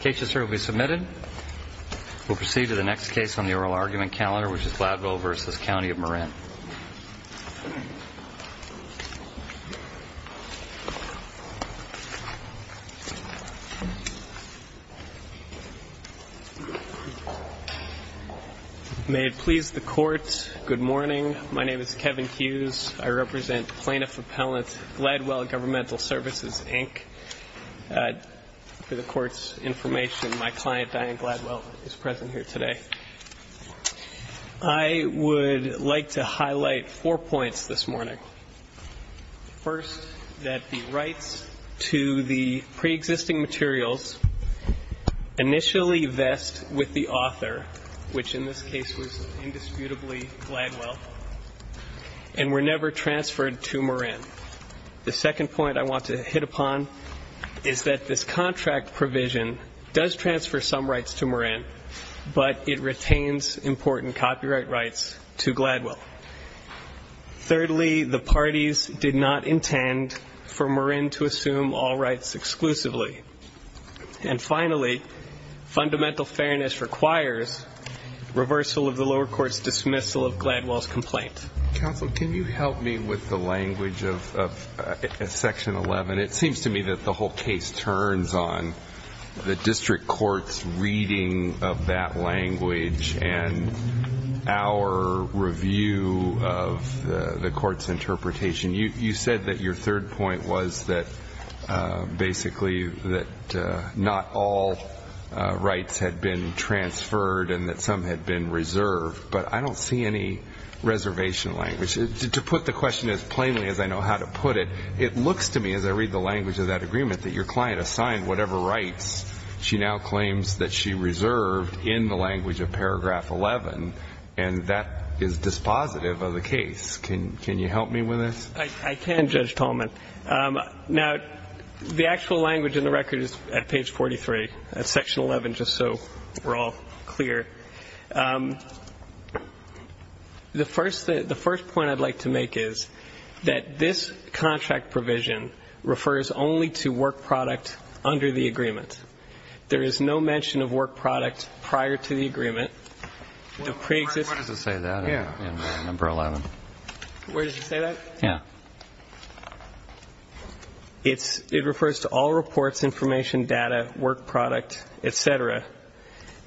Case will be submitted. We'll proceed to the next case on the oral argument calendar, which is Gladwell v. Count of Marin. May it please the Court, good morning. My name is Kevin Hughes. I represent Plaintiff Appellant Gladwell Gov. Services, Inc. For the Court's information, my client Diane Gladwell is present here today. I would like to highlight four points this morning. First, that the rights to the preexisting materials initially vest with the author, which in this case was indisputably Gladwell, and were never transferred to Marin. The second point I want to hit upon is that this contract provision does transfer some rights to Marin, but it retains important copyright rights to Gladwell. Thirdly, the parties did not intend for Marin to assume all rights exclusively. And finally, fundamental fairness requires reversal of the lower court's dismissal of Gladwell's complaint. Counsel, can you help me with the language of Section 11? It seems to me that the whole case turns on the district court's reading of that language and our review of the court's interpretation. You said that your third point was that basically that not all rights had been transferred and that some had been reserved, but I don't see any reservation language. To put the question as plainly as I know how to put it, it looks to me, as I read the language of that agreement, that your client assigned whatever rights she now claims that she reserved in the language of Paragraph 11, and that is dispositive of the case. Can you help me with this? I can, Judge Tallman. Now, the actual language in the record is at page 43, at Section 11, just so we're all clear. The first point I'd like to make is that this contract provision refers only to work product under the agreement. There is no mention of work product prior to the agreement. Where does it say that in Number 11? Where does it say that? Yeah. It refers to all reports, information, data, work product, et cetera,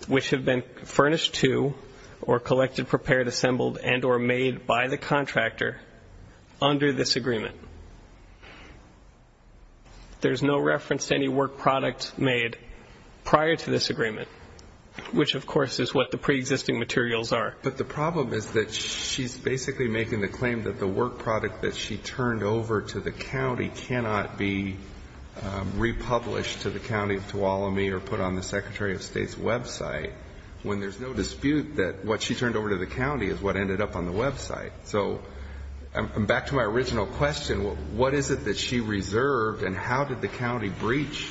which have been furnished to or collected, prepared, assembled, and or made by the contractor under this agreement. There is no reference to any work product made prior to this agreement, which, of course, is what the preexisting materials are. But the problem is that she's basically making the claim that the work product that she turned over to the county cannot be republished to the county of Tuolumne or put on the Secretary of State's website, when there's no dispute that what she turned over to the county is what ended up on the website. So back to my original question, what is it that she reserved and how did the county breach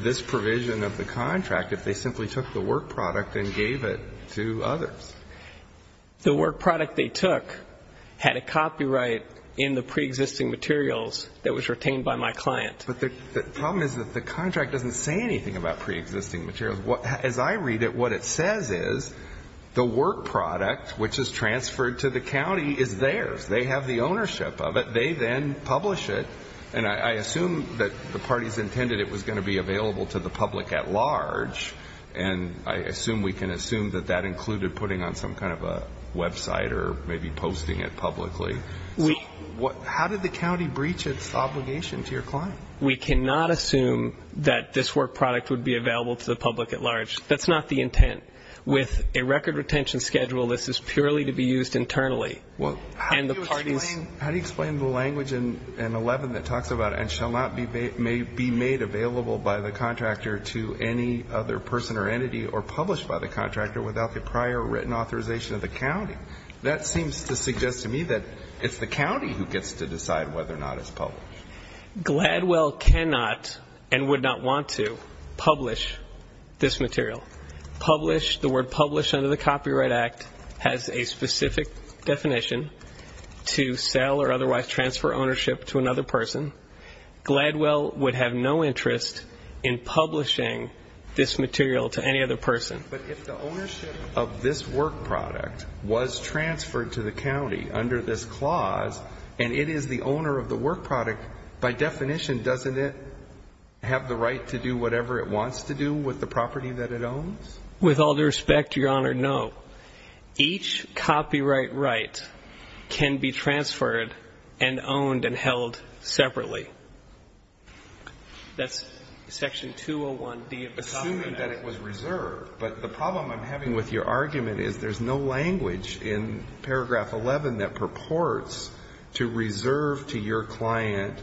this provision of the contract if they simply took the work product and gave it to others? The work product they took had a copyright in the preexisting materials that was retained by my client. But the problem is that the contract doesn't say anything about preexisting materials. As I read it, what it says is the work product, which is transferred to the county, is theirs. They have the ownership of it. They then publish it. And I assume that the parties intended it was going to be available to the public at large, and I assume we can assume that that included putting on some kind of a website or maybe posting it publicly. How did the county breach its obligation to your client? We cannot assume that this work product would be available to the public at large. That's not the intent. With a record retention schedule, this is purely to be used internally. How do you explain the language in 11 that talks about and shall not be made available by the contractor to any other person or entity or published by the contractor without the prior written authorization of the county? That seems to suggest to me that it's the county who gets to decide whether or not it's published. Gladwell cannot and would not want to publish this material. Publish, the word publish under the Copyright Act, has a specific definition to sell or otherwise transfer ownership to another person. Gladwell would have no interest in publishing this material to any other person. But if the ownership of this work product was transferred to the county under this clause and it is the owner of the work product, by definition, doesn't it have the right to do whatever it wants to do with the property that it owns? With all due respect, Your Honor, no. Each copyright right can be transferred and owned and held separately. That's Section 201D of the Copyright Act. Assuming that it was reserved. But the problem I'm having with your argument is there's no language in Paragraph 11 that purports to reserve to your client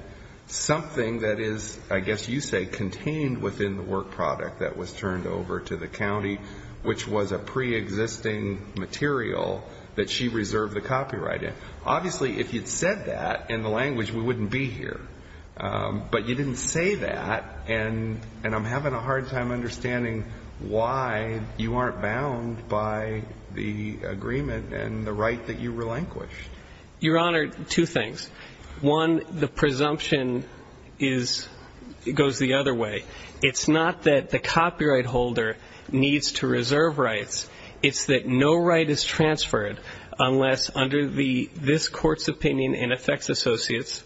something that is, I guess you say, contained within the work product that was turned over to the county, which was a preexisting material that she reserved the copyright in. Obviously, if you'd said that in the language, we wouldn't be here. But you didn't say that, and I'm having a hard time understanding why you aren't bound by the agreement and the right that you relinquished. Your Honor, two things. One, the presumption goes the other way. It's not that the copyright holder needs to reserve rights. It's that no right is transferred unless under this Court's opinion in effects associates,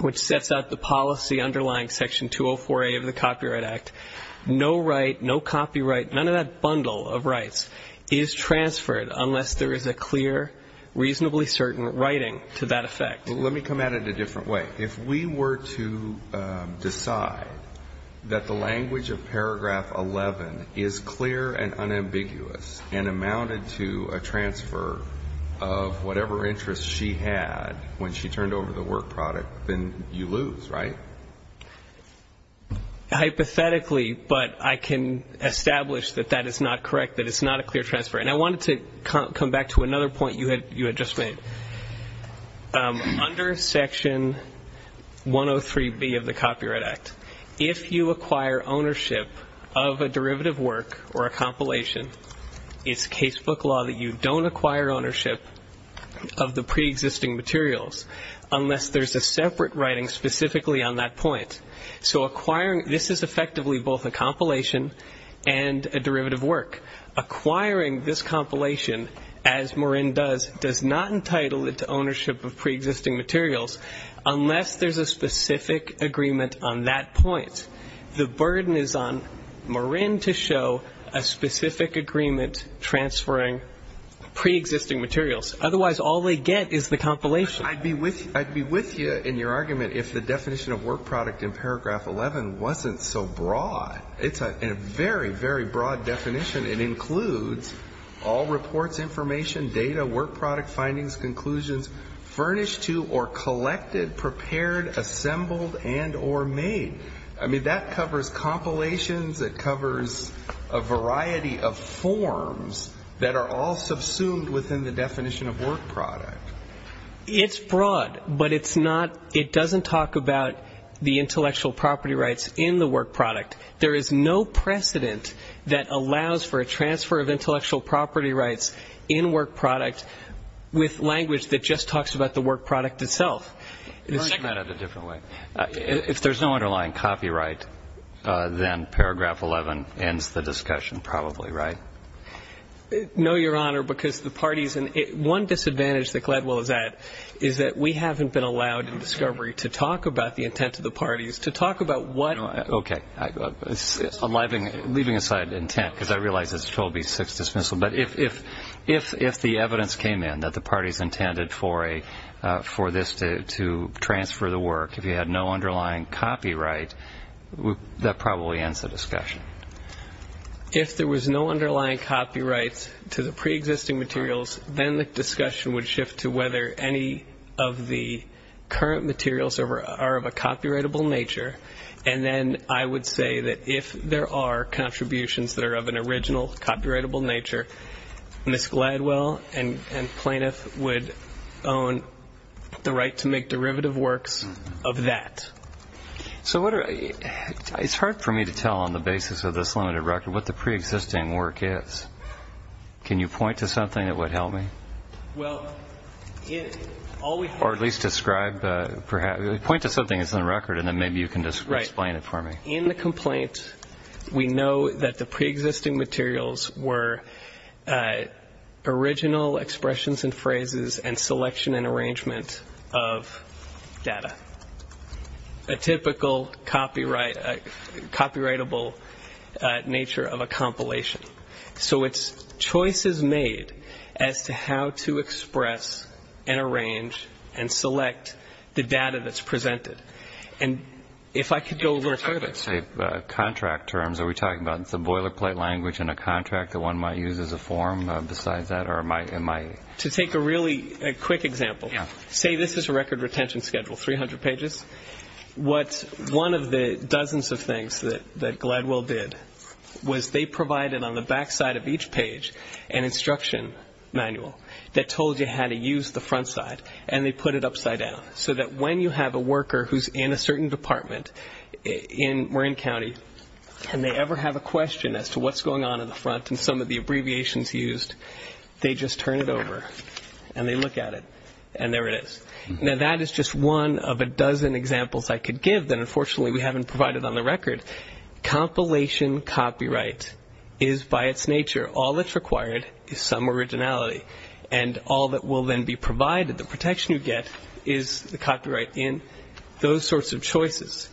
which sets out the policy underlying Section 204A of the Copyright Act, no right, no copyright, none of that bundle of rights is transferred unless there is a clear, reasonably certain writing to that effect. Let me come at it a different way. If we were to decide that the language of Paragraph 11 is clear and unambiguous and amounted to a transfer of whatever interest she had when she turned over the work product, then you lose, right? Hypothetically, but I can establish that that is not correct, that it's not a clear transfer. And I wanted to come back to another point you had just made. Under Section 103B of the Copyright Act, if you acquire ownership of a derivative work or a compilation, it's casebook law that you don't acquire ownership of the preexisting materials unless there's a separate writing specifically on that point. So this is effectively both a compilation and a derivative work. Acquiring this compilation, as Morin does, does not entitle it to ownership of preexisting materials unless there's a specific agreement on that point. The burden is on Morin to show a specific agreement transferring preexisting materials. Otherwise, all they get is the compilation. I'd be with you in your argument if the definition of work product in Paragraph 11 wasn't so broad. It's a very, very broad definition. It includes all reports, information, data, work product findings, conclusions, furnished to or collected, prepared, assembled, and or made. I mean, that covers compilations. It covers a variety of forms that are all subsumed within the definition of work product. It's broad, but it's not, it doesn't talk about the intellectual property rights in the work product. There is no precedent that allows for a transfer of intellectual property rights in work product with language that just talks about the work product itself. You're answering that in a different way. If there's no underlying copyright, then Paragraph 11 ends the discussion probably, right? No, Your Honor, because the parties, and one disadvantage that Gladwell is at is that we haven't been allowed in discovery to talk about the intent of the parties, to talk about what. Okay. Leaving aside intent, because I realize it's a 12B6 dismissal, but if the evidence came in that the parties intended for this to transfer the work, if you had no underlying copyright, that probably ends the discussion. If there was no underlying copyright to the preexisting materials, then the discussion would shift to whether any of the current materials are of a copyrightable nature, and then I would say that if there are contributions that are of an original copyrightable nature, Ms. Gladwell and Plaintiff would own the right to make derivative works of that. So it's hard for me to tell on the basis of this limited record what the preexisting work is. Can you point to something that would help me? Or at least describe, point to something that's in the record, and then maybe you can explain it for me. In the complaint, we know that the preexisting materials were original expressions and phrases and selection and arrangement of data, a typical copyrightable nature of a compilation. So it's choices made as to how to express and arrange and select the data that's presented. And if I could go a little further. Contract terms, are we talking about the boilerplate language in a contract that one might use as a form besides that? To take a really quick example, say this is a record retention schedule, 300 pages. One of the dozens of things that Gladwell did was they provided on the backside of each page an instruction manual that told you how to use the front side, and they put it upside down, so that when you have a worker who's in a certain department in Marin County, and they ever have a question as to what's going on in the front and some of the abbreviations used, they just turn it over and they look at it, and there it is. Now, that is just one of a dozen examples I could give that, unfortunately, we haven't provided on the record. Compilation copyright is, by its nature, all that's required is some originality, and all that will then be provided, the protection you get, is the copyright in those sorts of choices.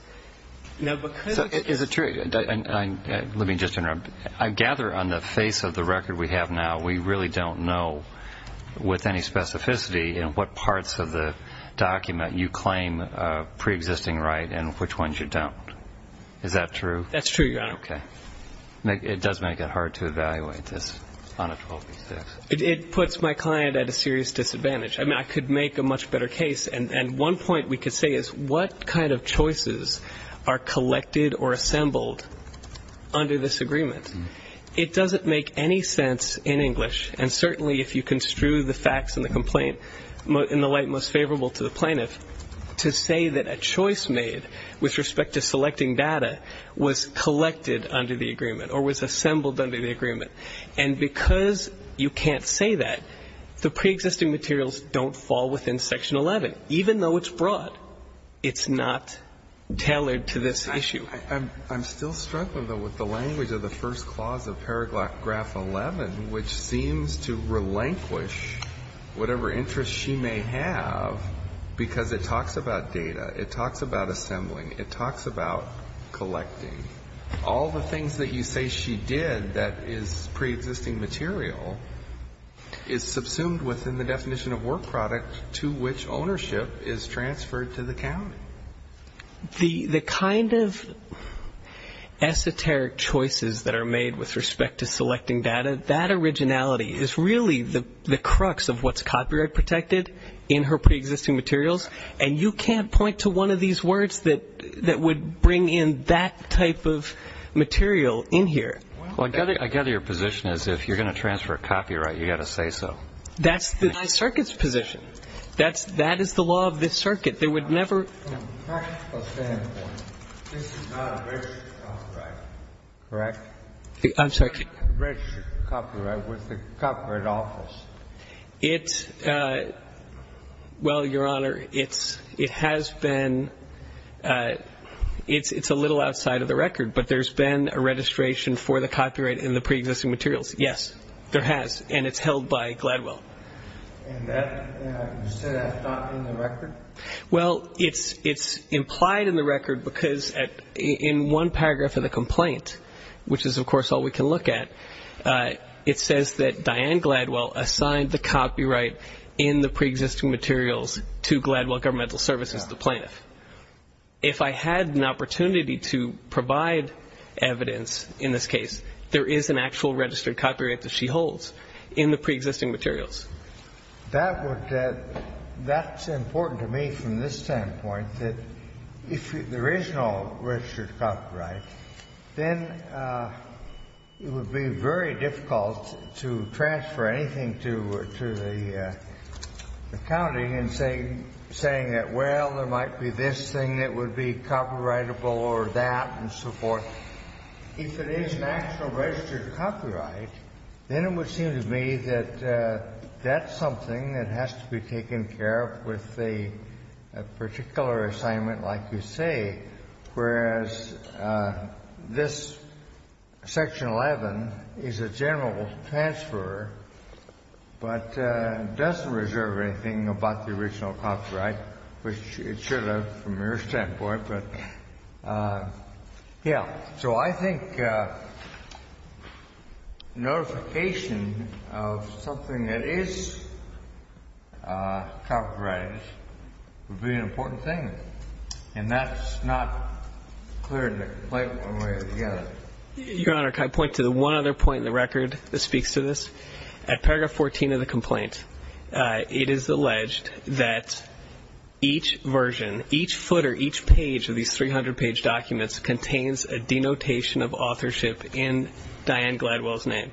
Is it true? Let me just interrupt. I gather on the face of the record we have now, we really don't know with any specificity in what parts of the document you claim preexisting right and which ones you don't. Is that true? That's true, Your Honor. Okay. It does make it hard to evaluate this on a 12-by-6. It puts my client at a serious disadvantage. I mean, I could make a much better case, and one point we could say is what kind of choices are collected or assembled under this agreement? It doesn't make any sense in English, and certainly if you construe the facts in the complaint in the light most favorable to the plaintiff, to say that a choice made with respect to selecting data was collected under the agreement or was assembled under the agreement. And because you can't say that, the preexisting materials don't fall within Section 11, even though it's broad. It's not tailored to this issue. I'm still struggling, though, with the language of the first clause of paragraph 11, which seems to relinquish whatever interest she may have because it talks about data, it talks about assembling, it talks about collecting. All the things that you say she did that is preexisting material is subsumed within the definition of work product to which ownership is transferred to the county. The kind of esoteric choices that are made with respect to selecting data, that originality is really the crux of what's copyright protected in her preexisting materials, and you can't point to one of these words that would bring in that type of material in here. Well, I gather your position is if you're going to transfer copyright, you've got to say so. That's the high circuit's position. That is the law of this circuit. There would never From a practical standpoint, this is not a registered copyright, correct? I'm sorry. A registered copyright with the Copyright Office. It's – well, Your Honor, it's – it has been – it's a little outside of the record, but there's been a registration for the copyright in the preexisting materials. Yes, there has, and it's held by Gladwell. And that – you said that's not in the record? Well, it's implied in the record because in one paragraph of the complaint, which is, of course, all we can look at, it says that Diane Gladwell assigned the copyright in the preexisting materials to Gladwell Governmental Services, the plaintiff. If I had an opportunity to provide evidence in this case, there is an actual registered copyright that she holds in the preexisting materials. That would – that's important to me from this standpoint, that if there is no registered copyright, then it would be very difficult to transfer anything to the county in saying that, well, there might be this thing that would be copyrightable or that and so forth. If it is an actual registered copyright, then it would seem to me that that's something that has to be taken care of with a particular assignment like you say, whereas this Section 11 is a general transfer, but doesn't reserve anything about the original copyright, which it should have from your standpoint. But, yeah, so I think notification of something that is copyrighted would be an important thing, and that's not clear in the complaint when we're together. Your Honor, can I point to the one other point in the record that speaks to this? At paragraph 14 of the complaint, it is alleged that each version, each footer, each page of these 300-page documents contains a denotation of authorship in Diane Gladwell's name.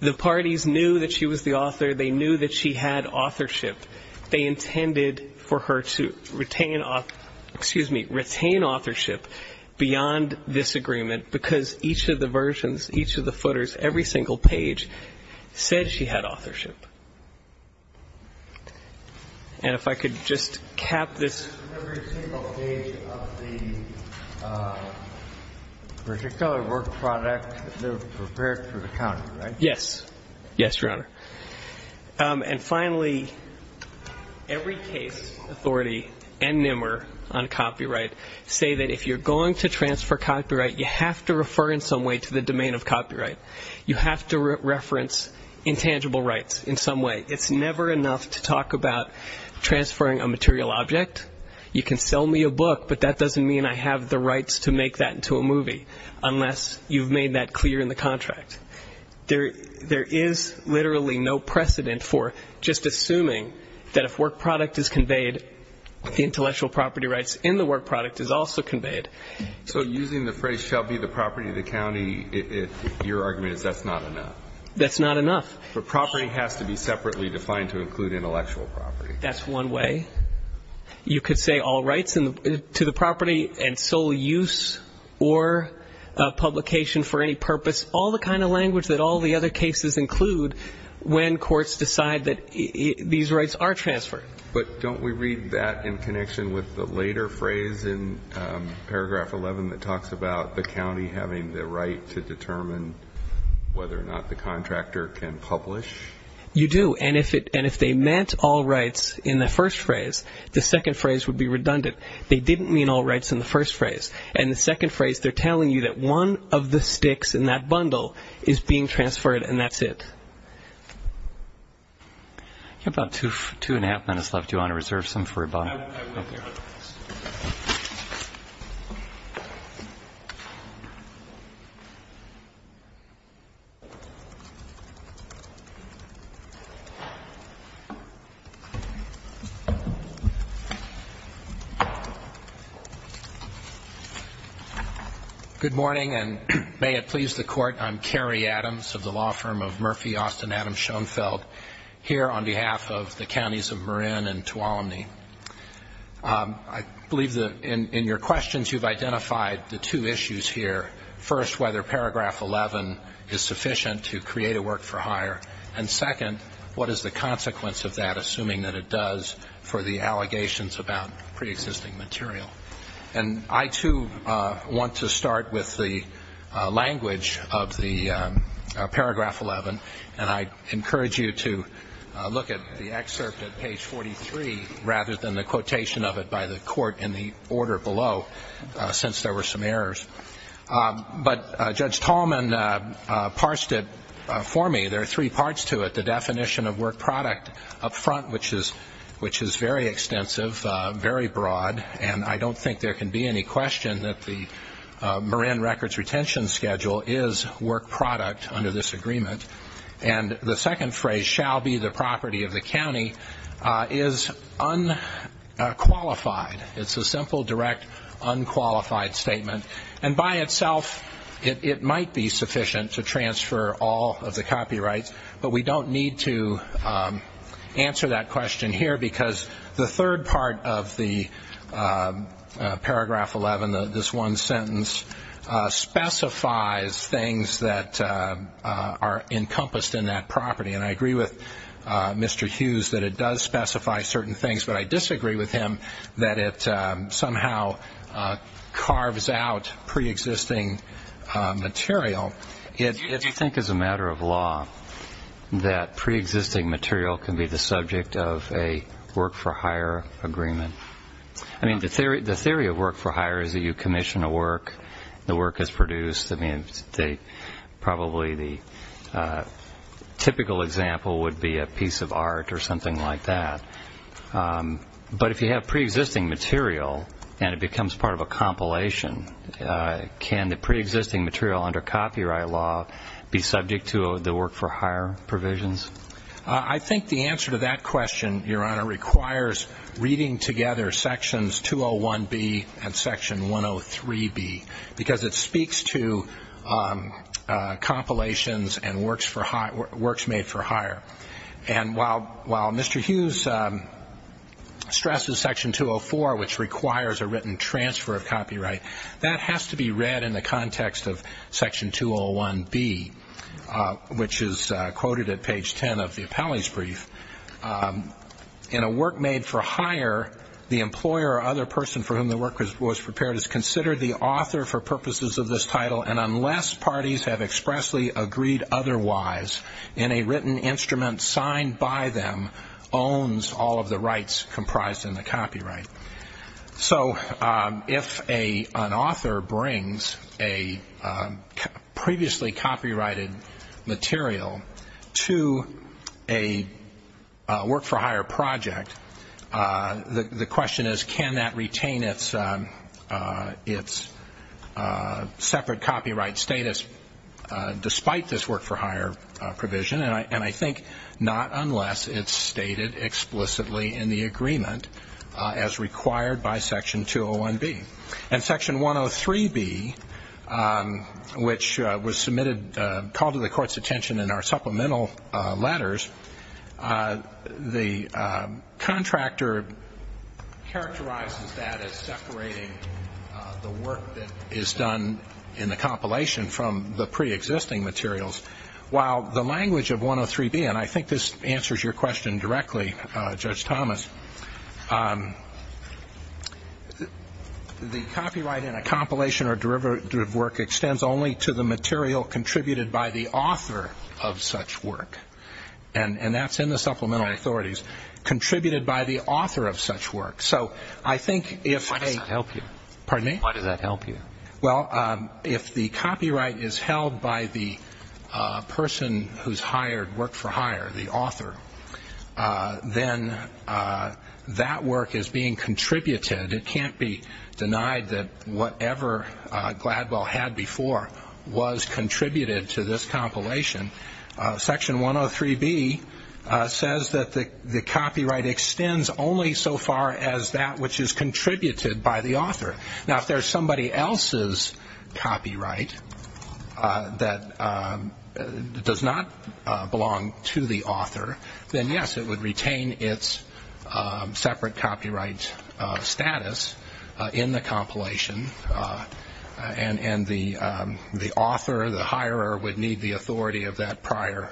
The parties knew that she was the author. They knew that she had authorship. They intended for her to retain authorship beyond this agreement because each of the versions, each of the footers, every single page said she had authorship. And if I could just cap this. Every single page of the particular work product, they were prepared for the county, right? Yes. Yes, Your Honor. And finally, every case authority and NMR on copyright say that if you're going to transfer copyright, you have to refer in some way to the domain of copyright. You have to reference intangible rights in some way. It's never enough to talk about transferring a material object. You can sell me a book, but that doesn't mean I have the rights to make that into a movie, unless you've made that clear in the contract. There is literally no precedent for just assuming that if work product is conveyed, the intellectual property rights in the work product is also conveyed. So using the phrase shall be the property of the county, your argument is that's not enough. That's not enough. The property has to be separately defined to include intellectual property. That's one way. You could say all rights to the property and sole use or publication for any purpose, all the kind of language that all the other cases include when courts decide that these rights are transferred. But don't we read that in connection with the later phrase in paragraph 11 that talks about the county having the right to determine whether or not the contractor can publish? You do. And if they meant all rights in the first phrase, the second phrase would be redundant. They didn't mean all rights in the first phrase. In the second phrase, they're telling you that one of the sticks in that bundle is being transferred, and that's it. You have about two and a half minutes left. Do you want to reserve some for about a minute? I will, Your Honor. Thank you. Good morning, and may it please the Court, I'm Kerry Adams of the law firm of Murphy Austin Adams Schoenfeld here on behalf of the counties of Marin and Tuolumne. I believe that in your questions, you've identified the two issues here. First, whether paragraph 11 is sufficient to create a work-for-hire. And second, what is the consequence of that, assuming that it does, for the allegations about preexisting material? And I, too, want to start with the language of the paragraph 11, and I encourage you to look at the excerpt at page 43 rather than the quotation of it by the Court in the order below, since there were some errors. But Judge Tallman parsed it for me. There are three parts to it. The definition of work product up front, which is very extensive, very broad, and I don't think there can be any question that the Marin records retention schedule is work product under this agreement. And the second phrase, shall be the property of the county, is unqualified. It's a simple, direct, unqualified statement. And by itself, it might be sufficient to transfer all of the copyrights, but we don't need to answer that question here because the third part of the paragraph 11, this one sentence, specifies things that are encompassed in that property. And I agree with Mr. Hughes that it does specify certain things, but I disagree with him that it somehow carves out preexisting material. Do you think as a matter of law that preexisting material can be the subject of a work for hire agreement? I mean, the theory of work for hire is that you commission a work, the work is produced. I mean, probably the typical example would be a piece of art or something like that. But if you have preexisting material and it becomes part of a compilation, can the preexisting material under copyright law be subject to the work for hire provisions? I think the answer to that question, Your Honor, requires reading together sections 201B and section 103B because it speaks to compilations and works made for hire. And while Mr. Hughes stresses section 204, which requires a written transfer of copyright, that has to be read in the context of section 201B, which is quoted at page 10 of the appellee's brief. In a work made for hire, the employer or other person for whom the work was prepared is considered the author for purposes of this title, and unless parties have expressly agreed otherwise, any written instrument signed by them owns all of the rights comprised in the copyright. So if an author brings a previously copyrighted material to a work for hire project, the question is, can that retain its separate copyright status despite this work for hire provision? And I think not unless it's stated explicitly in the agreement as required by section 201B. In section 103B, which was submitted, called to the Court's attention in our supplemental letters, the contractor characterizes that as separating the work that is done in the compilation from the preexisting materials. While the language of 103B, and I think this answers your question directly, Judge Thomas, the copyright in a compilation or derivative work extends only to the material contributed by the author of such work. And that's in the supplemental authorities. Contributed by the author of such work. So I think if they. Why does that help you? Pardon me? Why does that help you? Well, if the copyright is held by the person who's hired work for hire, the author, then that work is being contributed. It can't be denied that whatever Gladwell had before was contributed to this compilation. Section 103B says that the copyright extends only so far as that which is contributed by the author. Now, if there's somebody else's copyright that does not belong to the author, then, yes, it would retain its separate copyright status in the compilation, and the author, the hirer, would need the authority of that prior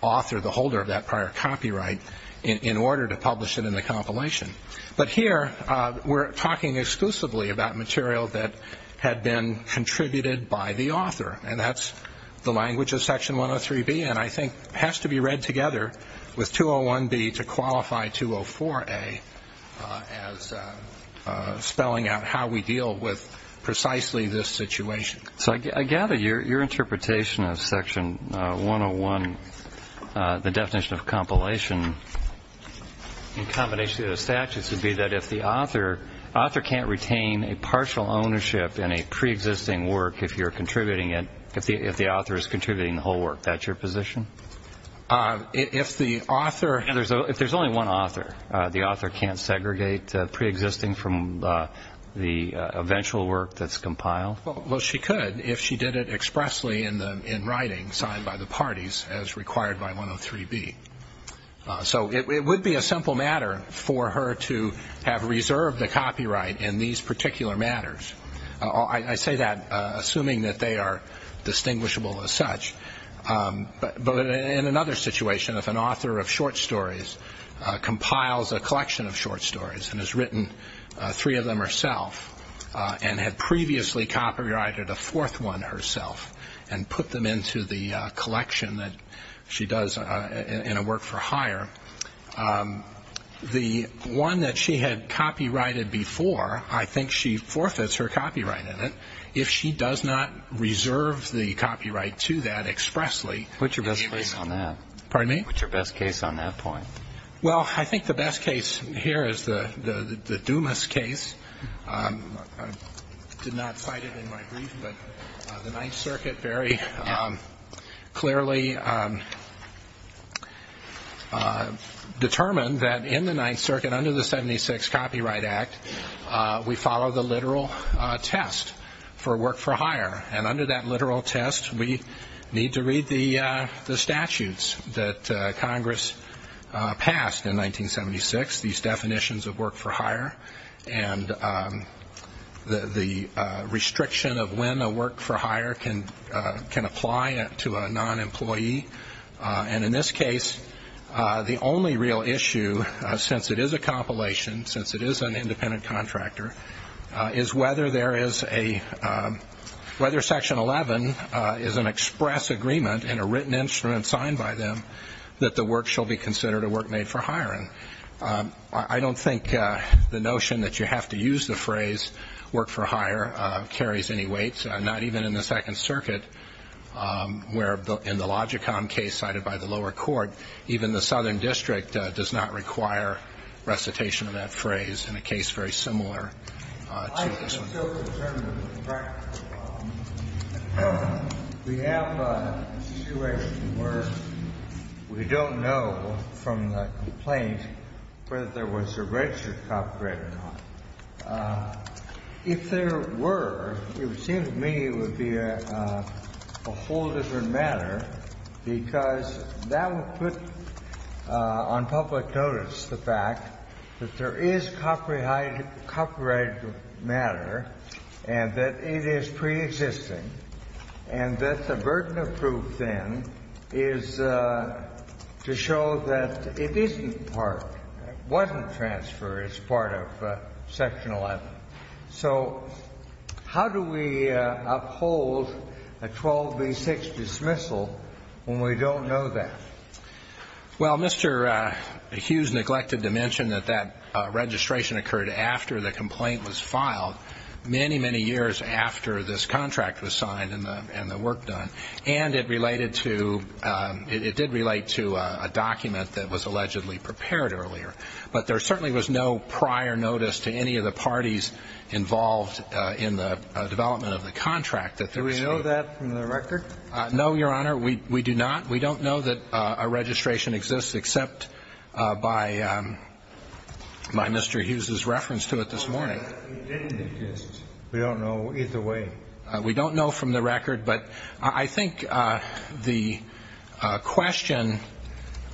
author, the holder of that prior copyright, in order to publish it in the compilation. But here we're talking exclusively about material that had been contributed by the author, and that's the language of Section 103B. And I think it has to be read together with 201B to qualify 204A as spelling out how we deal with precisely this situation. So I gather your interpretation of Section 101, the definition of compilation in combination with the statutes, would be that if the author can't retain a partial ownership in a preexisting work if you're contributing it, if the author is contributing the whole work, that's your position? If the author – If there's only one author, the author can't segregate preexisting from the eventual work that's compiled? Well, she could if she did it expressly in writing, signed by the parties, as required by 103B. So it would be a simple matter for her to have reserved the copyright in these particular matters. I say that assuming that they are distinguishable as such. But in another situation, if an author of short stories compiles a collection of short stories and has written three of them herself and had previously copyrighted a fourth one herself and put them into the collection that she does in a work-for-hire, the one that she had copyrighted before, I think she forfeits her copyright in it. If she does not reserve the copyright to that expressly – What's your best case on that? Pardon me? What's your best case on that point? Well, I think the best case here is the Dumas case. I did not cite it in my brief, but the Ninth Circuit very clearly determined that in the Ninth Circuit, under the 76 Copyright Act, we follow the literal test for work-for-hire. And under that literal test, we need to read the statutes that Congress passed in 1976, these definitions of work-for-hire and the restriction of when a work-for-hire can apply to a non-employee. And in this case, the only real issue, since it is a compilation, since it is an independent contractor, is whether Section 11 is an express agreement in a written instrument signed by them that the work shall be considered a work made for hiring. I don't think the notion that you have to use the phrase work-for-hire carries any weight, not even in the Second Circuit, where in the Logicom case cited by the lower court, even the Southern District does not require recitation of that phrase in a case very similar to this one. I am so concerned with the practical problem. We have a situation where we don't know from the complaint whether there was a registered copyright or not. If there were, it would seem to me it would be a whole different matter, because that would put on public notice the fact that there is copyrighted matter and that it is preexisting, and that the burden of proof then is to show that it isn't part of Section 11. So how do we uphold a 12b-6 dismissal when we don't know that? Well, Mr. Hughes neglected to mention that that registration occurred after the complaint was filed, many, many years after this contract was signed and the work done. And it did relate to a document that was allegedly prepared earlier. But there certainly was no prior notice to any of the parties involved in the development of the contract. Do we know that from the record? No, Your Honor. We do not. We don't know that a registration exists except by Mr. Hughes's reference to it this morning. It didn't exist. We don't know either way. We don't know from the record, but I think the question,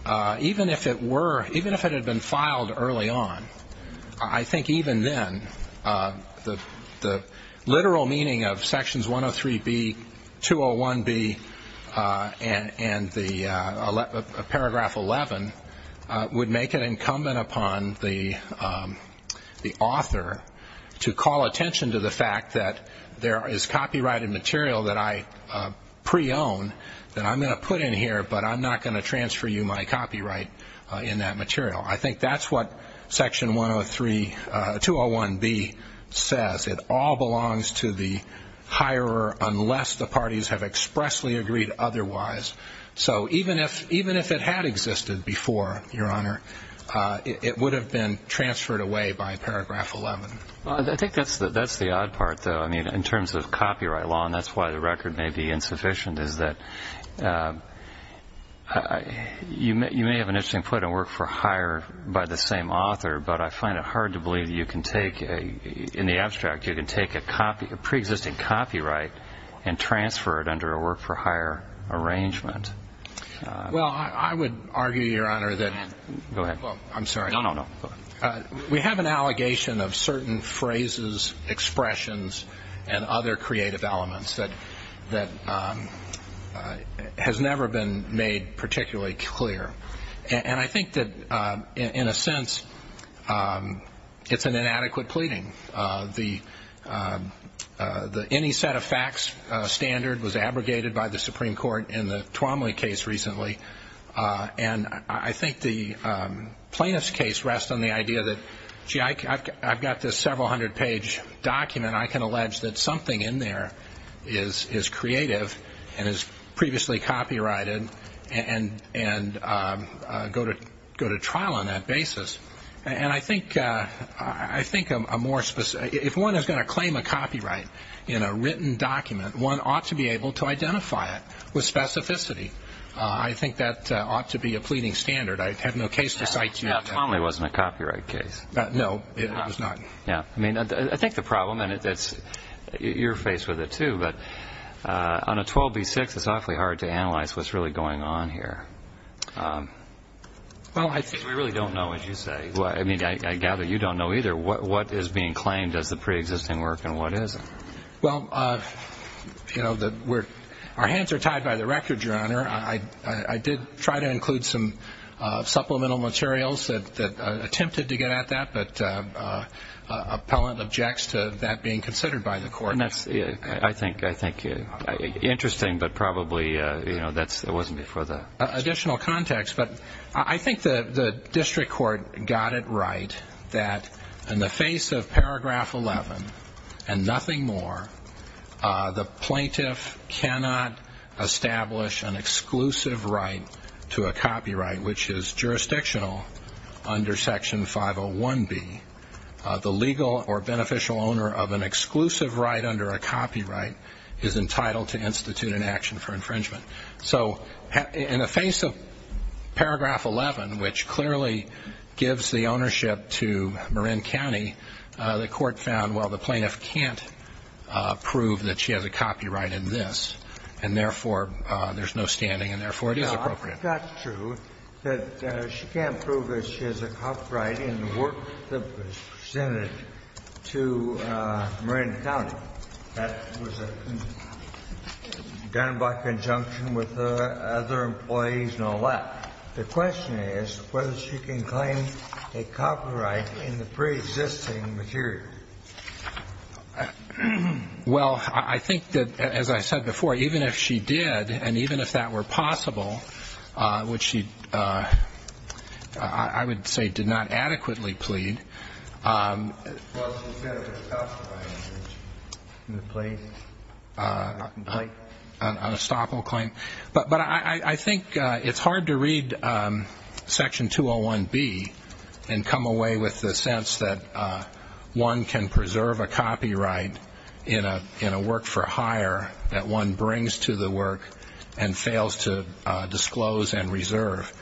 even if it had been filed early on, I think even then the literal meaning of Sections 103b, 201b, and Paragraph 11 would make it incumbent upon the author to call attention to the fact that there is copyrighted material that I pre-own that I'm going to put in here, but I'm not going to transfer you my copyright in that material. I think that's what Section 103, 201b says. It all belongs to the hirer unless the parties have expressly agreed otherwise. So even if it had existed before, Your Honor, it would have been transferred away by Paragraph 11. I think that's the odd part, though. I mean, in terms of copyright law, and that's why the record may be insufficient, is that you may have an interesting point on work for hire by the same author, but I find it hard to believe that you can take, in the abstract, you can take a pre-existing copyright and transfer it under a work for hire arrangement. Well, I would argue, Your Honor, that we have an allegation of certain phrases, expressions, and other creative elements that has never been made particularly clear, and I think that, in a sense, it's an inadequate pleading. Any set of facts standard was abrogated by the Supreme Court in the Twomley case recently, and I think the plaintiff's case rests on the idea that, gee, I've got this several hundred-page document. I can allege that something in there is creative and is previously copyrighted and go to trial on that basis. And I think a more specific, if one is going to claim a copyright in a written document, one ought to be able to identify it with specificity. I think that ought to be a pleading standard. I have no case to cite to you on that. The Twomley wasn't a copyright case. No, it was not. Yeah, I mean, I think the problem, and you're faced with it too, but on a 12B6, it's awfully hard to analyze what's really going on here. Well, I think we really don't know, as you say. I mean, I gather you don't know either. What is being claimed as the preexisting work and what isn't? Well, you know, our hands are tied by the record, Your Honor. I did try to include some supplemental materials that attempted to get at that, and that's, I think, interesting, but probably, you know, it wasn't before that. Additional context, but I think the district court got it right that in the face of Paragraph 11 and nothing more, the plaintiff cannot establish an exclusive right to a copyright, which is jurisdictional under Section 501B. The legal or beneficial owner of an exclusive right under a copyright is entitled to institute an action for infringement. So in the face of Paragraph 11, which clearly gives the ownership to Marin County, the court found, well, the plaintiff can't prove that she has a copyright in this, and therefore there's no standing, and therefore it is appropriate. If that's true, that she can't prove that she has a copyright in the work that was presented to Marin County, that was done by conjunction with other employees and all that, the question is whether she can claim a copyright in the preexisting material. Well, I think that, as I said before, even if she did and even if that were possible, which she, I would say, did not adequately plead. Well, she's got to be justified in the place of a complaint. An estoppel claim. But I think it's hard to read Section 201B and come away with the sense that one can preserve a copyright in a work for hire that one brings to the work and fails to disclose and reserve.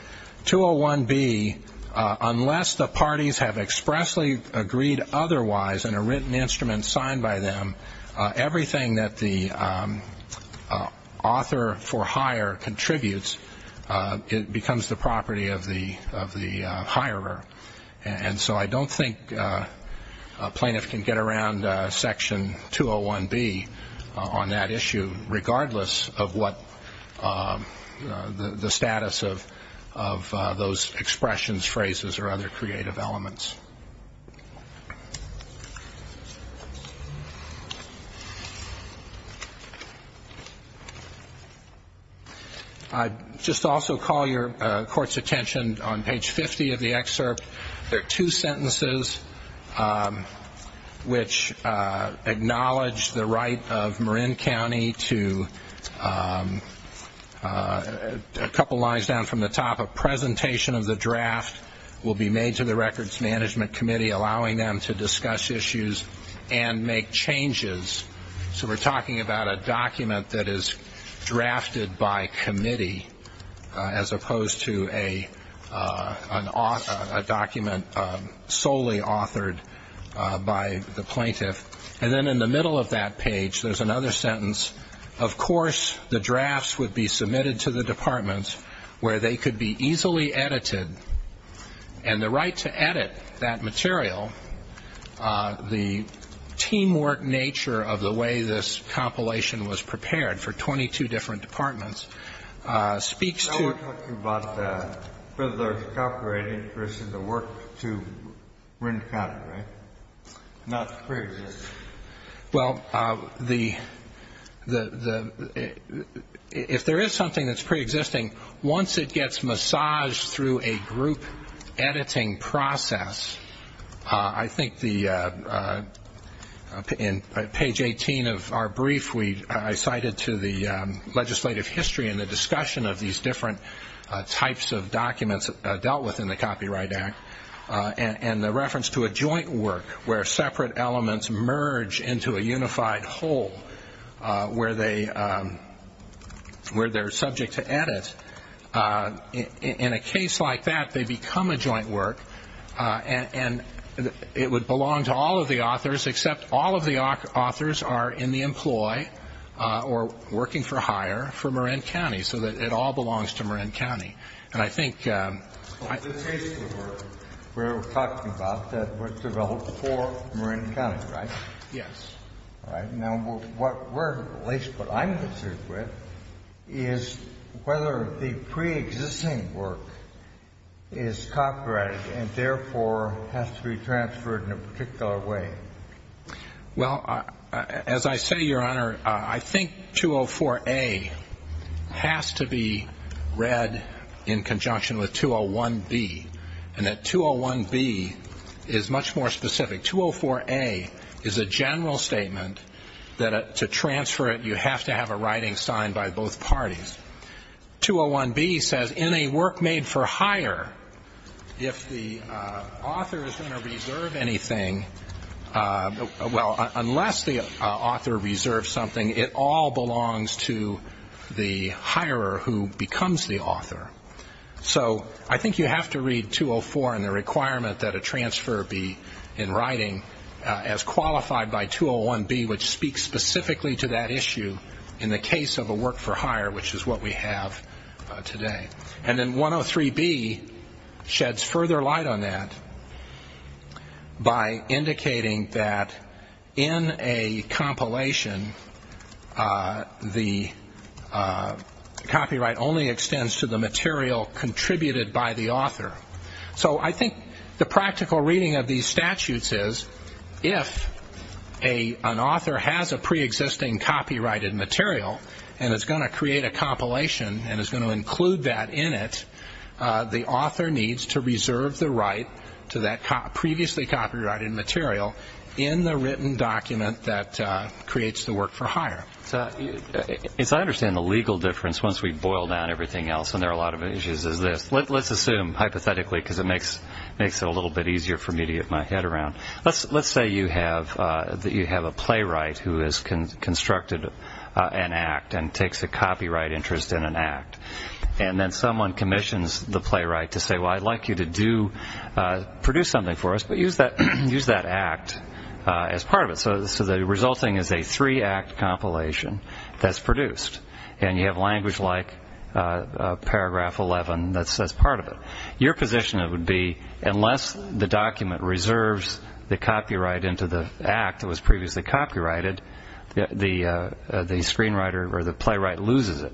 201B, unless the parties have expressly agreed otherwise in a written instrument signed by them, everything that the author for hire contributes becomes the property of the hirer. And so I don't think a plaintiff can get around Section 201B on that issue, regardless of what the status of those expressions, phrases, or other creative elements. I'd just also call your court's attention on page 50 of the excerpt. There are two sentences which acknowledge the right of Marin County to, a couple of lines down from the top, a presentation of the draft will be made to the records manager, allowing them to discuss issues and make changes. So we're talking about a document that is drafted by committee, as opposed to a document solely authored by the plaintiff. And then in the middle of that page, there's another sentence, of course the drafts would be submitted to the department where they could be easily edited. And the right to edit that material, the teamwork nature of the way this compilation was prepared for 22 different departments, speaks to. Now we're talking about Fiddler's Copyright interest in the work to Marin County, right? Not preexisting. Well, if there is something that's preexisting, once it gets massaged through a group editing process, I think in page 18 of our brief I cited to the legislative history and the discussion of these different types of documents dealt with in the Copyright Act, and the reference to a joint work where separate elements merge into a unified whole, where they're subject to edit. In a case like that, they become a joint work, and it would belong to all of the authors except all of the authors are in the employ or working for hire for Marin County, so that it all belongs to Marin County. And I think the case we're talking about that was developed for Marin County, right? Yes. All right. Now what I'm concerned with is whether the preexisting work is copyrighted and therefore has to be transferred in a particular way. Well, as I say, Your Honor, I think 204A has to be read in conjunction with 201B, and that 201B is much more specific. 204A is a general statement that to transfer it you have to have a writing signed by both parties. 201B says in a work made for hire, if the author is going to reserve anything, well, unless the author reserves something, it all belongs to the hirer who becomes the author. So I think you have to read 204 and the requirement that a transfer be in writing as qualified by 201B, which speaks specifically to that issue in the case of a work for hire, which is what we have today. And then 103B sheds further light on that by indicating that in a compilation, the copyright only extends to the material contributed by the author. So I think the practical reading of these statutes is if an author has a preexisting copyrighted material and is going to create a compilation and is going to include that in it, the author needs to reserve the right to that previously copyrighted material in the written document that creates the work for hire. So I understand the legal difference once we boil down everything else, and there are a lot of issues as this. Let's assume, hypothetically, because it makes it a little bit easier for me to get my head around. Let's say you have a playwright who has constructed an act and takes a copyright interest in an act, and then someone commissions the playwright to say, well, I'd like you to produce something for us, but use that act as part of it. So the resulting is a three-act compilation that's produced, and you have language like paragraph 11 that's part of it. Your position would be unless the document reserves the copyright into the act that was previously copyrighted, the screenwriter or the playwright loses it.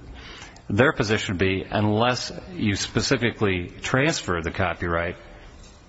Their position would be unless you specifically transfer the copyright,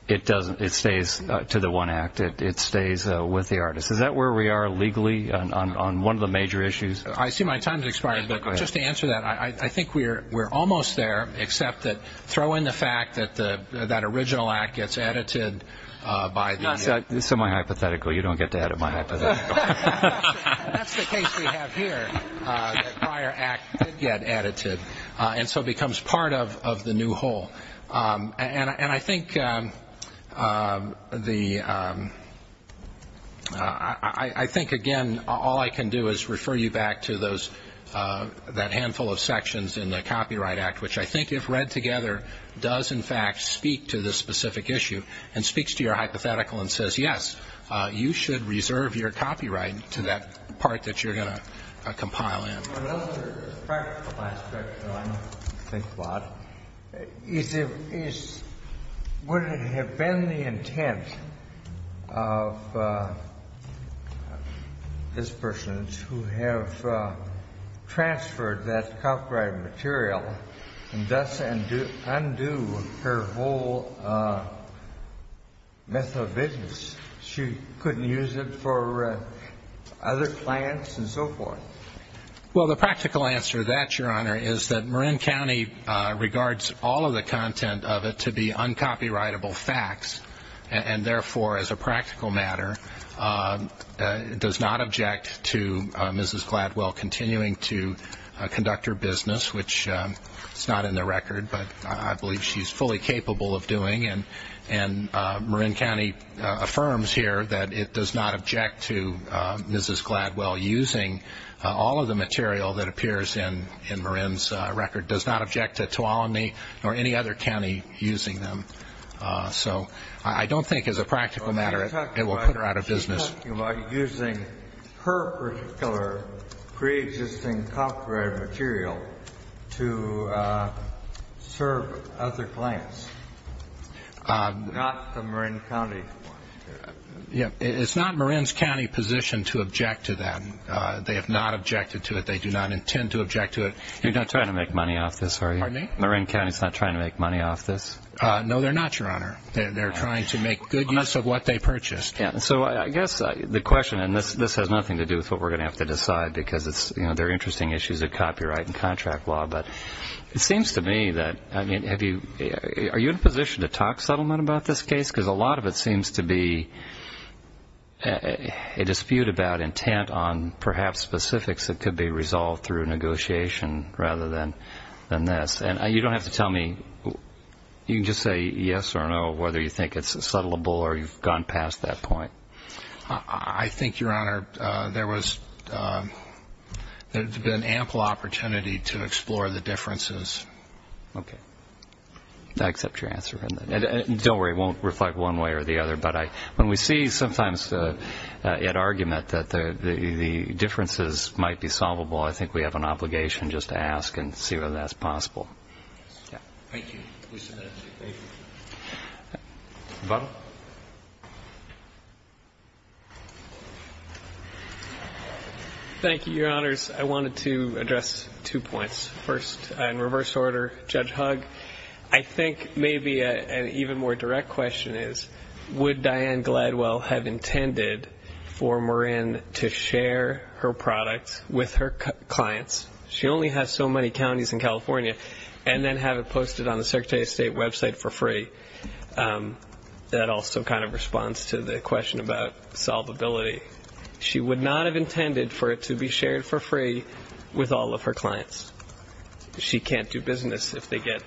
it stays to the one act. It stays with the artist. Is that where we are legally on one of the major issues? I see my time has expired, but just to answer that, I think we're almost there, except that throw in the fact that that original act gets edited by the – It's semi-hypothetical. You don't get to edit my hypothetical. That's the case we have here, that prior act did get edited and so becomes part of the new whole. And I think the – I think, again, all I can do is refer you back to those – that handful of sections in the Copyright Act, which I think if read together, does in fact speak to this specific issue and speaks to your hypothetical and says, yes, you should reserve your copyright to that part that you're going to compile in. Another practical aspect, though I don't think a lot, is would it have been the intent of this person who have transferred that copyrighted material and thus undo her whole myth of business? She couldn't use it for other clients and so forth. Well, the practical answer to that, Your Honor, is that Marin County regards all of the content of it to be uncopyrightable facts and, therefore, as a practical matter, does not object to Mrs. Gladwell continuing to conduct her business, which is not in the record, but I believe she's fully capable of doing. And Marin County affirms here that it does not object to Mrs. Gladwell using all of the material that appears in Marin's record, does not object to Tuolumne or any other county using them. So I don't think as a practical matter it will put her out of business. Well, she's talking about using her particular preexisting copyrighted material to serve other clients, not the Marin County ones. It's not Marin's county position to object to that. They have not objected to it. They do not intend to object to it. You're not trying to make money off this, are you? Pardon me? Marin County's not trying to make money off this? No, they're not, Your Honor. They're trying to make good use of what they purchased. So I guess the question, and this has nothing to do with what we're going to have to decide because they're interesting issues of copyright and contract law, but it seems to me that, I mean, are you in a position to talk settlement about this case? Because a lot of it seems to be a dispute about intent on perhaps specifics that could be resolved through negotiation rather than this. And you don't have to tell me. You can just say yes or no, whether you think it's settlable or you've gone past that point. I think, Your Honor, there's been ample opportunity to explore the differences. Okay. I accept your answer on that. Don't worry, it won't reflect one way or the other, but when we see sometimes an argument that the differences might be solvable, I think we have an obligation just to ask and see whether that's possible. Thank you. Thank you. Butler. Thank you, Your Honors. I wanted to address two points. First, in reverse order, Judge Hugg, I think maybe an even more direct question is, would Diane Gladwell have intended for Marin to share her products with her clients? She only has so many counties in California, and then have it posted on the Secretary of State website for free. That also kind of responds to the question about solvability. She would not have intended for it to be shared for free with all of her clients. She can't do business if they get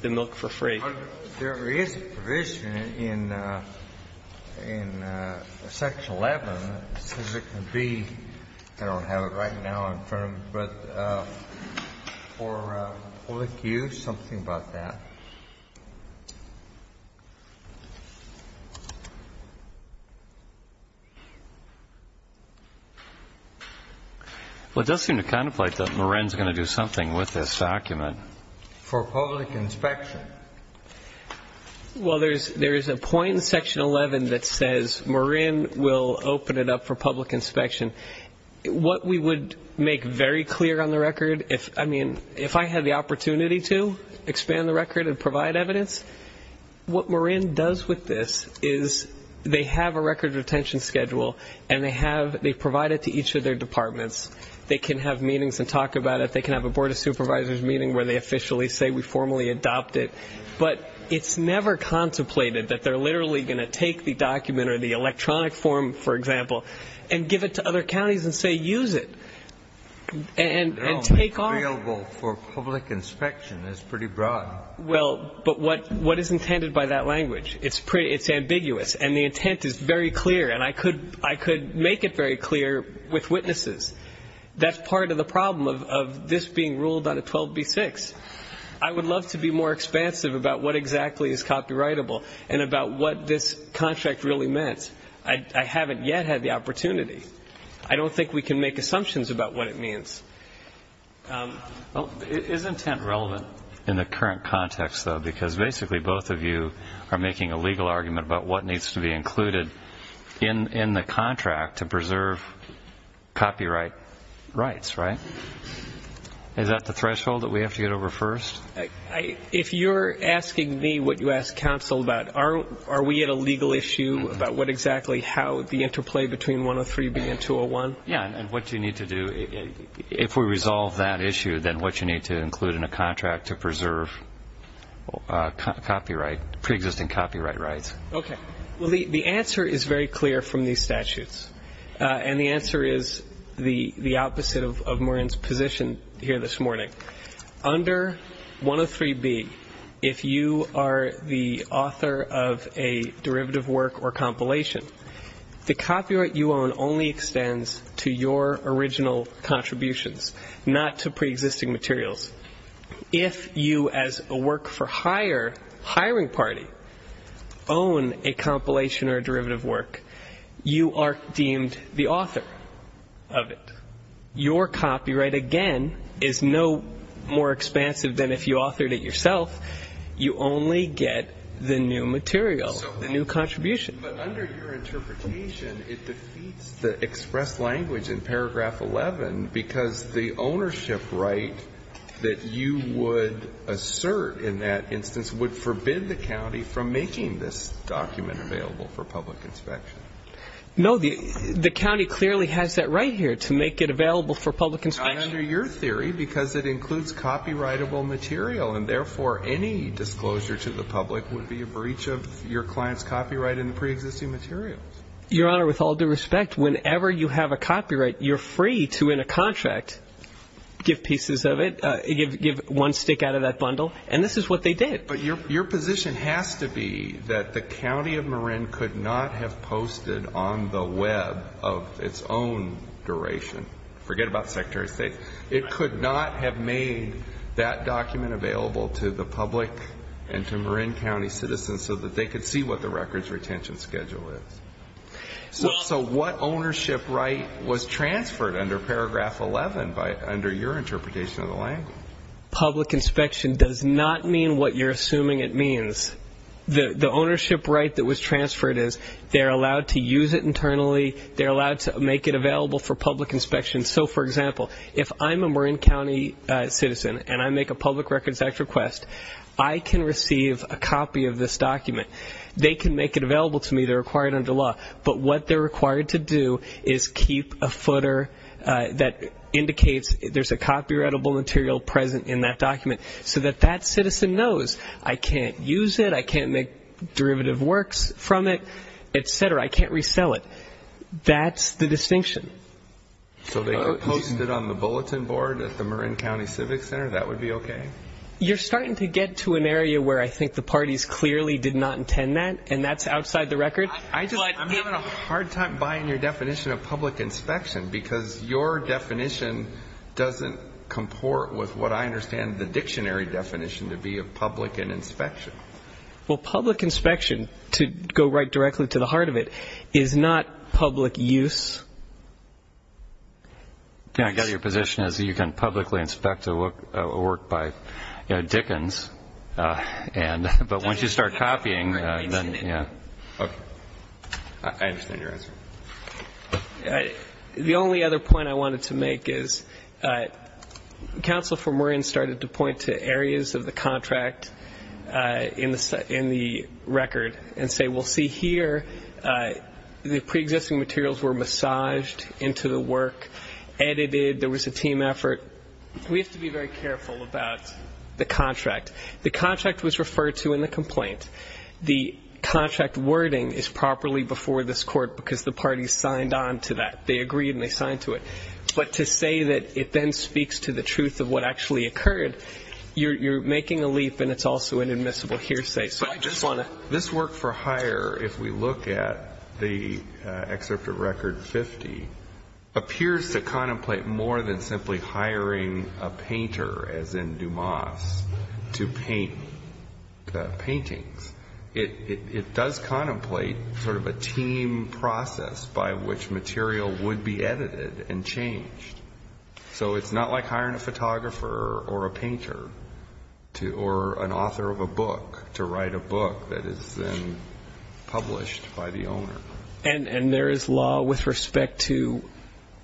the milk for free. There is a provision in Section 11, as it can be. I don't have it right now in front of me. But for public use, something about that. Well, it does seem to contemplate that Marin is going to do something with this document. For public inspection. Well, there is a point in Section 11 that says Marin will open it up for public inspection. What we would make very clear on the record, I mean, if I had the opportunity to expand the record and provide evidence, what Marin does with this is they have a record retention schedule, and they provide it to each of their departments. They can have meetings and talk about it. They can have a Board of Supervisors meeting where they officially say we formally adopt it. But it's never contemplated that they're literally going to take the document or the electronic form, for example, and give it to other counties and say, use it. Available for public inspection is pretty broad. Well, but what is intended by that language? It's ambiguous, and the intent is very clear, and I could make it very clear with witnesses. That's part of the problem of this being ruled on a 12b-6. I would love to be more expansive about what exactly is copyrightable and about what this contract really meant. I haven't yet had the opportunity. I don't think we can make assumptions about what it means. Well, is intent relevant in the current context, though, because basically both of you are making a legal argument about what needs to be included in the contract to preserve copyright rights, right? Is that the threshold that we have to get over first? If you're asking me what you asked counsel about, are we at a legal issue about what exactly how the interplay between 103b and 201? Yeah, and what you need to do, if we resolve that issue, then what you need to include in a contract to preserve copyright, preexisting copyright rights. Okay. Well, the answer is very clear from these statutes, and the answer is the opposite of Maureen's position here this morning. Under 103b, if you are the author of a derivative work or compilation, the copyright you own only extends to your original contributions, not to preexisting materials. If you, as a work-for-hire hiring party, own a compilation or a derivative work, you are deemed the author of it. Your copyright, again, is no more expansive than if you authored it yourself. You only get the new material, the new contribution. But under your interpretation, it defeats the express language in paragraph 11 because the ownership right that you would assert in that instance would forbid the county from making this document available for public inspection. No. The county clearly has that right here, to make it available for public inspection. Under your theory, because it includes copyrightable material, and therefore any disclosure to the public would be a breach of your client's copyright in the preexisting material. Your Honor, with all due respect, whenever you have a copyright, you're free to, in a contract, give pieces of it, give one stick out of that bundle. And this is what they did. But your position has to be that the county of Maureen could not have posted on the Web of its own duration. Forget about Secretary of State. It could not have made that document available to the public and to Maureen County citizens so that they could see what the records retention schedule is. So what ownership right was transferred under paragraph 11 under your interpretation of the language? Public inspection does not mean what you're assuming it means. The ownership right that was transferred is they're allowed to use it internally. They're allowed to make it available for public inspection. So, for example, if I'm a Maureen County citizen and I make a Public Records Act request, I can receive a copy of this document. They can make it available to me. They're required under law. But what they're required to do is keep a footer that indicates there's a copyrightable material present in that document so that that citizen knows I can't use it, I can't make derivative works from it, et cetera, I can't resell it. That's the distinction. So they can post it on the bulletin board at the Maureen County Civic Center? That would be okay? You're starting to get to an area where I think the parties clearly did not intend that, and that's outside the record. I'm having a hard time buying your definition of public inspection because your definition doesn't comport with what I understand the dictionary definition to be of public and inspection. Well, public inspection, to go right directly to the heart of it, is not public use. I get it. Your position is you can publicly inspect a work by Dickens, but once you start copying, then, yeah. Okay. I understand your answer. The only other point I wanted to make is Counsel for Maureen started to point to areas of the contract in the record and say, well, see here, the preexisting materials were massaged into the work, edited, there was a team effort. We have to be very careful about the contract. The contract was referred to in the complaint. The contract wording is properly before this court because the parties signed on to that. They agreed and they signed to it. But to say that it then speaks to the truth of what actually occurred, you're making a leap, and it's also an admissible hearsay. This work for hire, if we look at the excerpt of record 50, appears to contemplate more than simply hiring a painter, as in Dumas, to paint the paintings. It does contemplate sort of a team process by which material would be edited and changed. So it's not like hiring a photographer or a painter or an author of a book to write a book that is then published by the owner. And there is law with respect to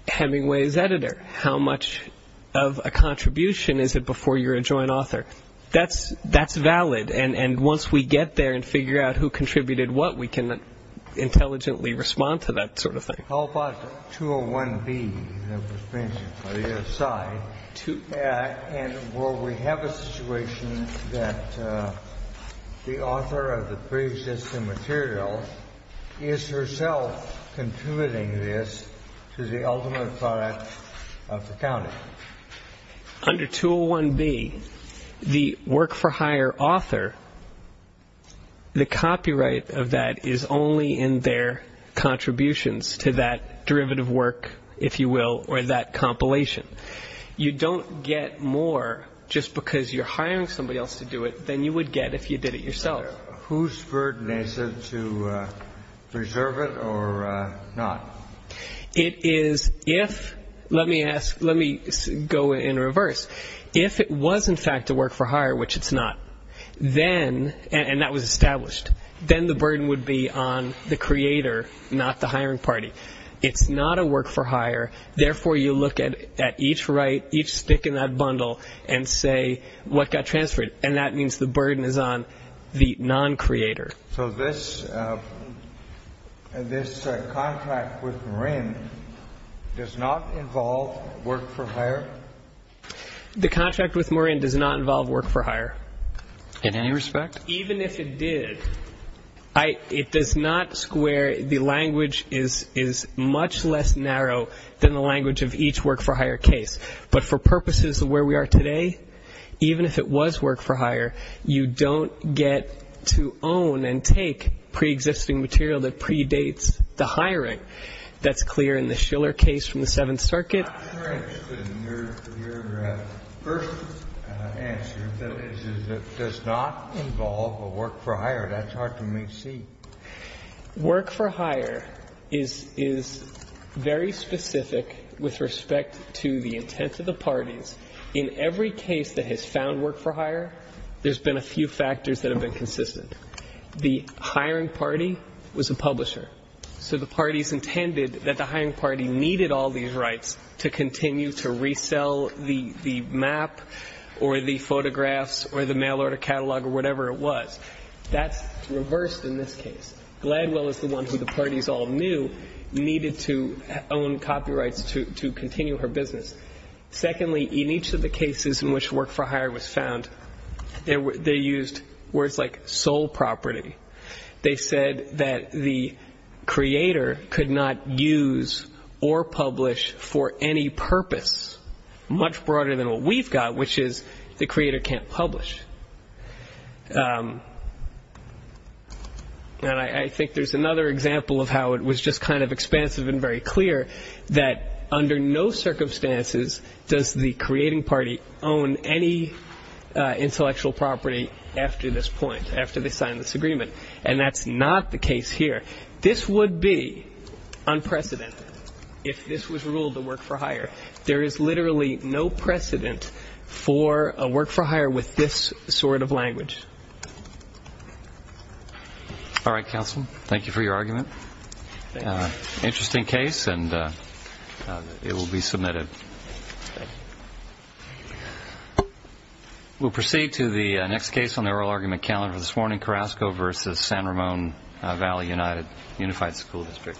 Hemingway's editor. How much of a contribution is it before you're a joint author? That's valid. And once we get there and figure out who contributed what, we can intelligently respond to that sort of thing. How about 201B, the painting on the other side? And will we have a situation that the author of the pre-existing material is herself contributing this to the ultimate product of the county? Under 201B, the work-for-hire author, the copyright of that is only in their contributions to that derivative work, if you will, or that compilation. You don't get more just because you're hiring somebody else to do it than you would get if you did it yourself. Who's burden is it to preserve it or not? Let me go in reverse. If it was, in fact, a work-for-hire, which it's not, and that was established, then the burden would be on the creator, not the hiring party. It's not a work-for-hire. Therefore, you look at each stick in that bundle and say what got transferred, and that means the burden is on the non-creator. So this contract with Morin does not involve work-for-hire? The contract with Morin does not involve work-for-hire. In any respect? Even if it did, it does not square. The language is much less narrow than the language of each work-for-hire case. But for purposes of where we are today, even if it was work-for-hire, you don't get to own and take preexisting material that predates the hiring. That's clear in the Schiller case from the Seventh Circuit. I'm interested in your first answer, that it does not involve a work-for-hire. That's hard for me to see. Work-for-hire is very specific with respect to the intent of the parties. In every case that has found work-for-hire, there's been a few factors that have been consistent. The hiring party was a publisher. So the parties intended that the hiring party needed all these rights to continue to resell the map or the photographs or the mail order catalog or whatever it was. That's reversed in this case. Gladwell is the one who the parties all knew needed to own copyrights to continue her business. Secondly, in each of the cases in which work-for-hire was found, they used words like sole property. They said that the creator could not use or publish for any purpose much broader than what we've got, which is the creator can't publish. And I think there's another example of how it was just kind of expansive and very clear that under no circumstances does the creating party own any intellectual property after this point, after they sign this agreement. And that's not the case here. This would be unprecedented if this was ruled a work-for-hire. There is literally no precedent for a work-for-hire with this sort of language. All right, counsel. Thank you for your argument. Interesting case and it will be submitted. We'll proceed to the next case on the oral argument calendar this morning. Carrasco versus San Ramon Valley United Unified School District.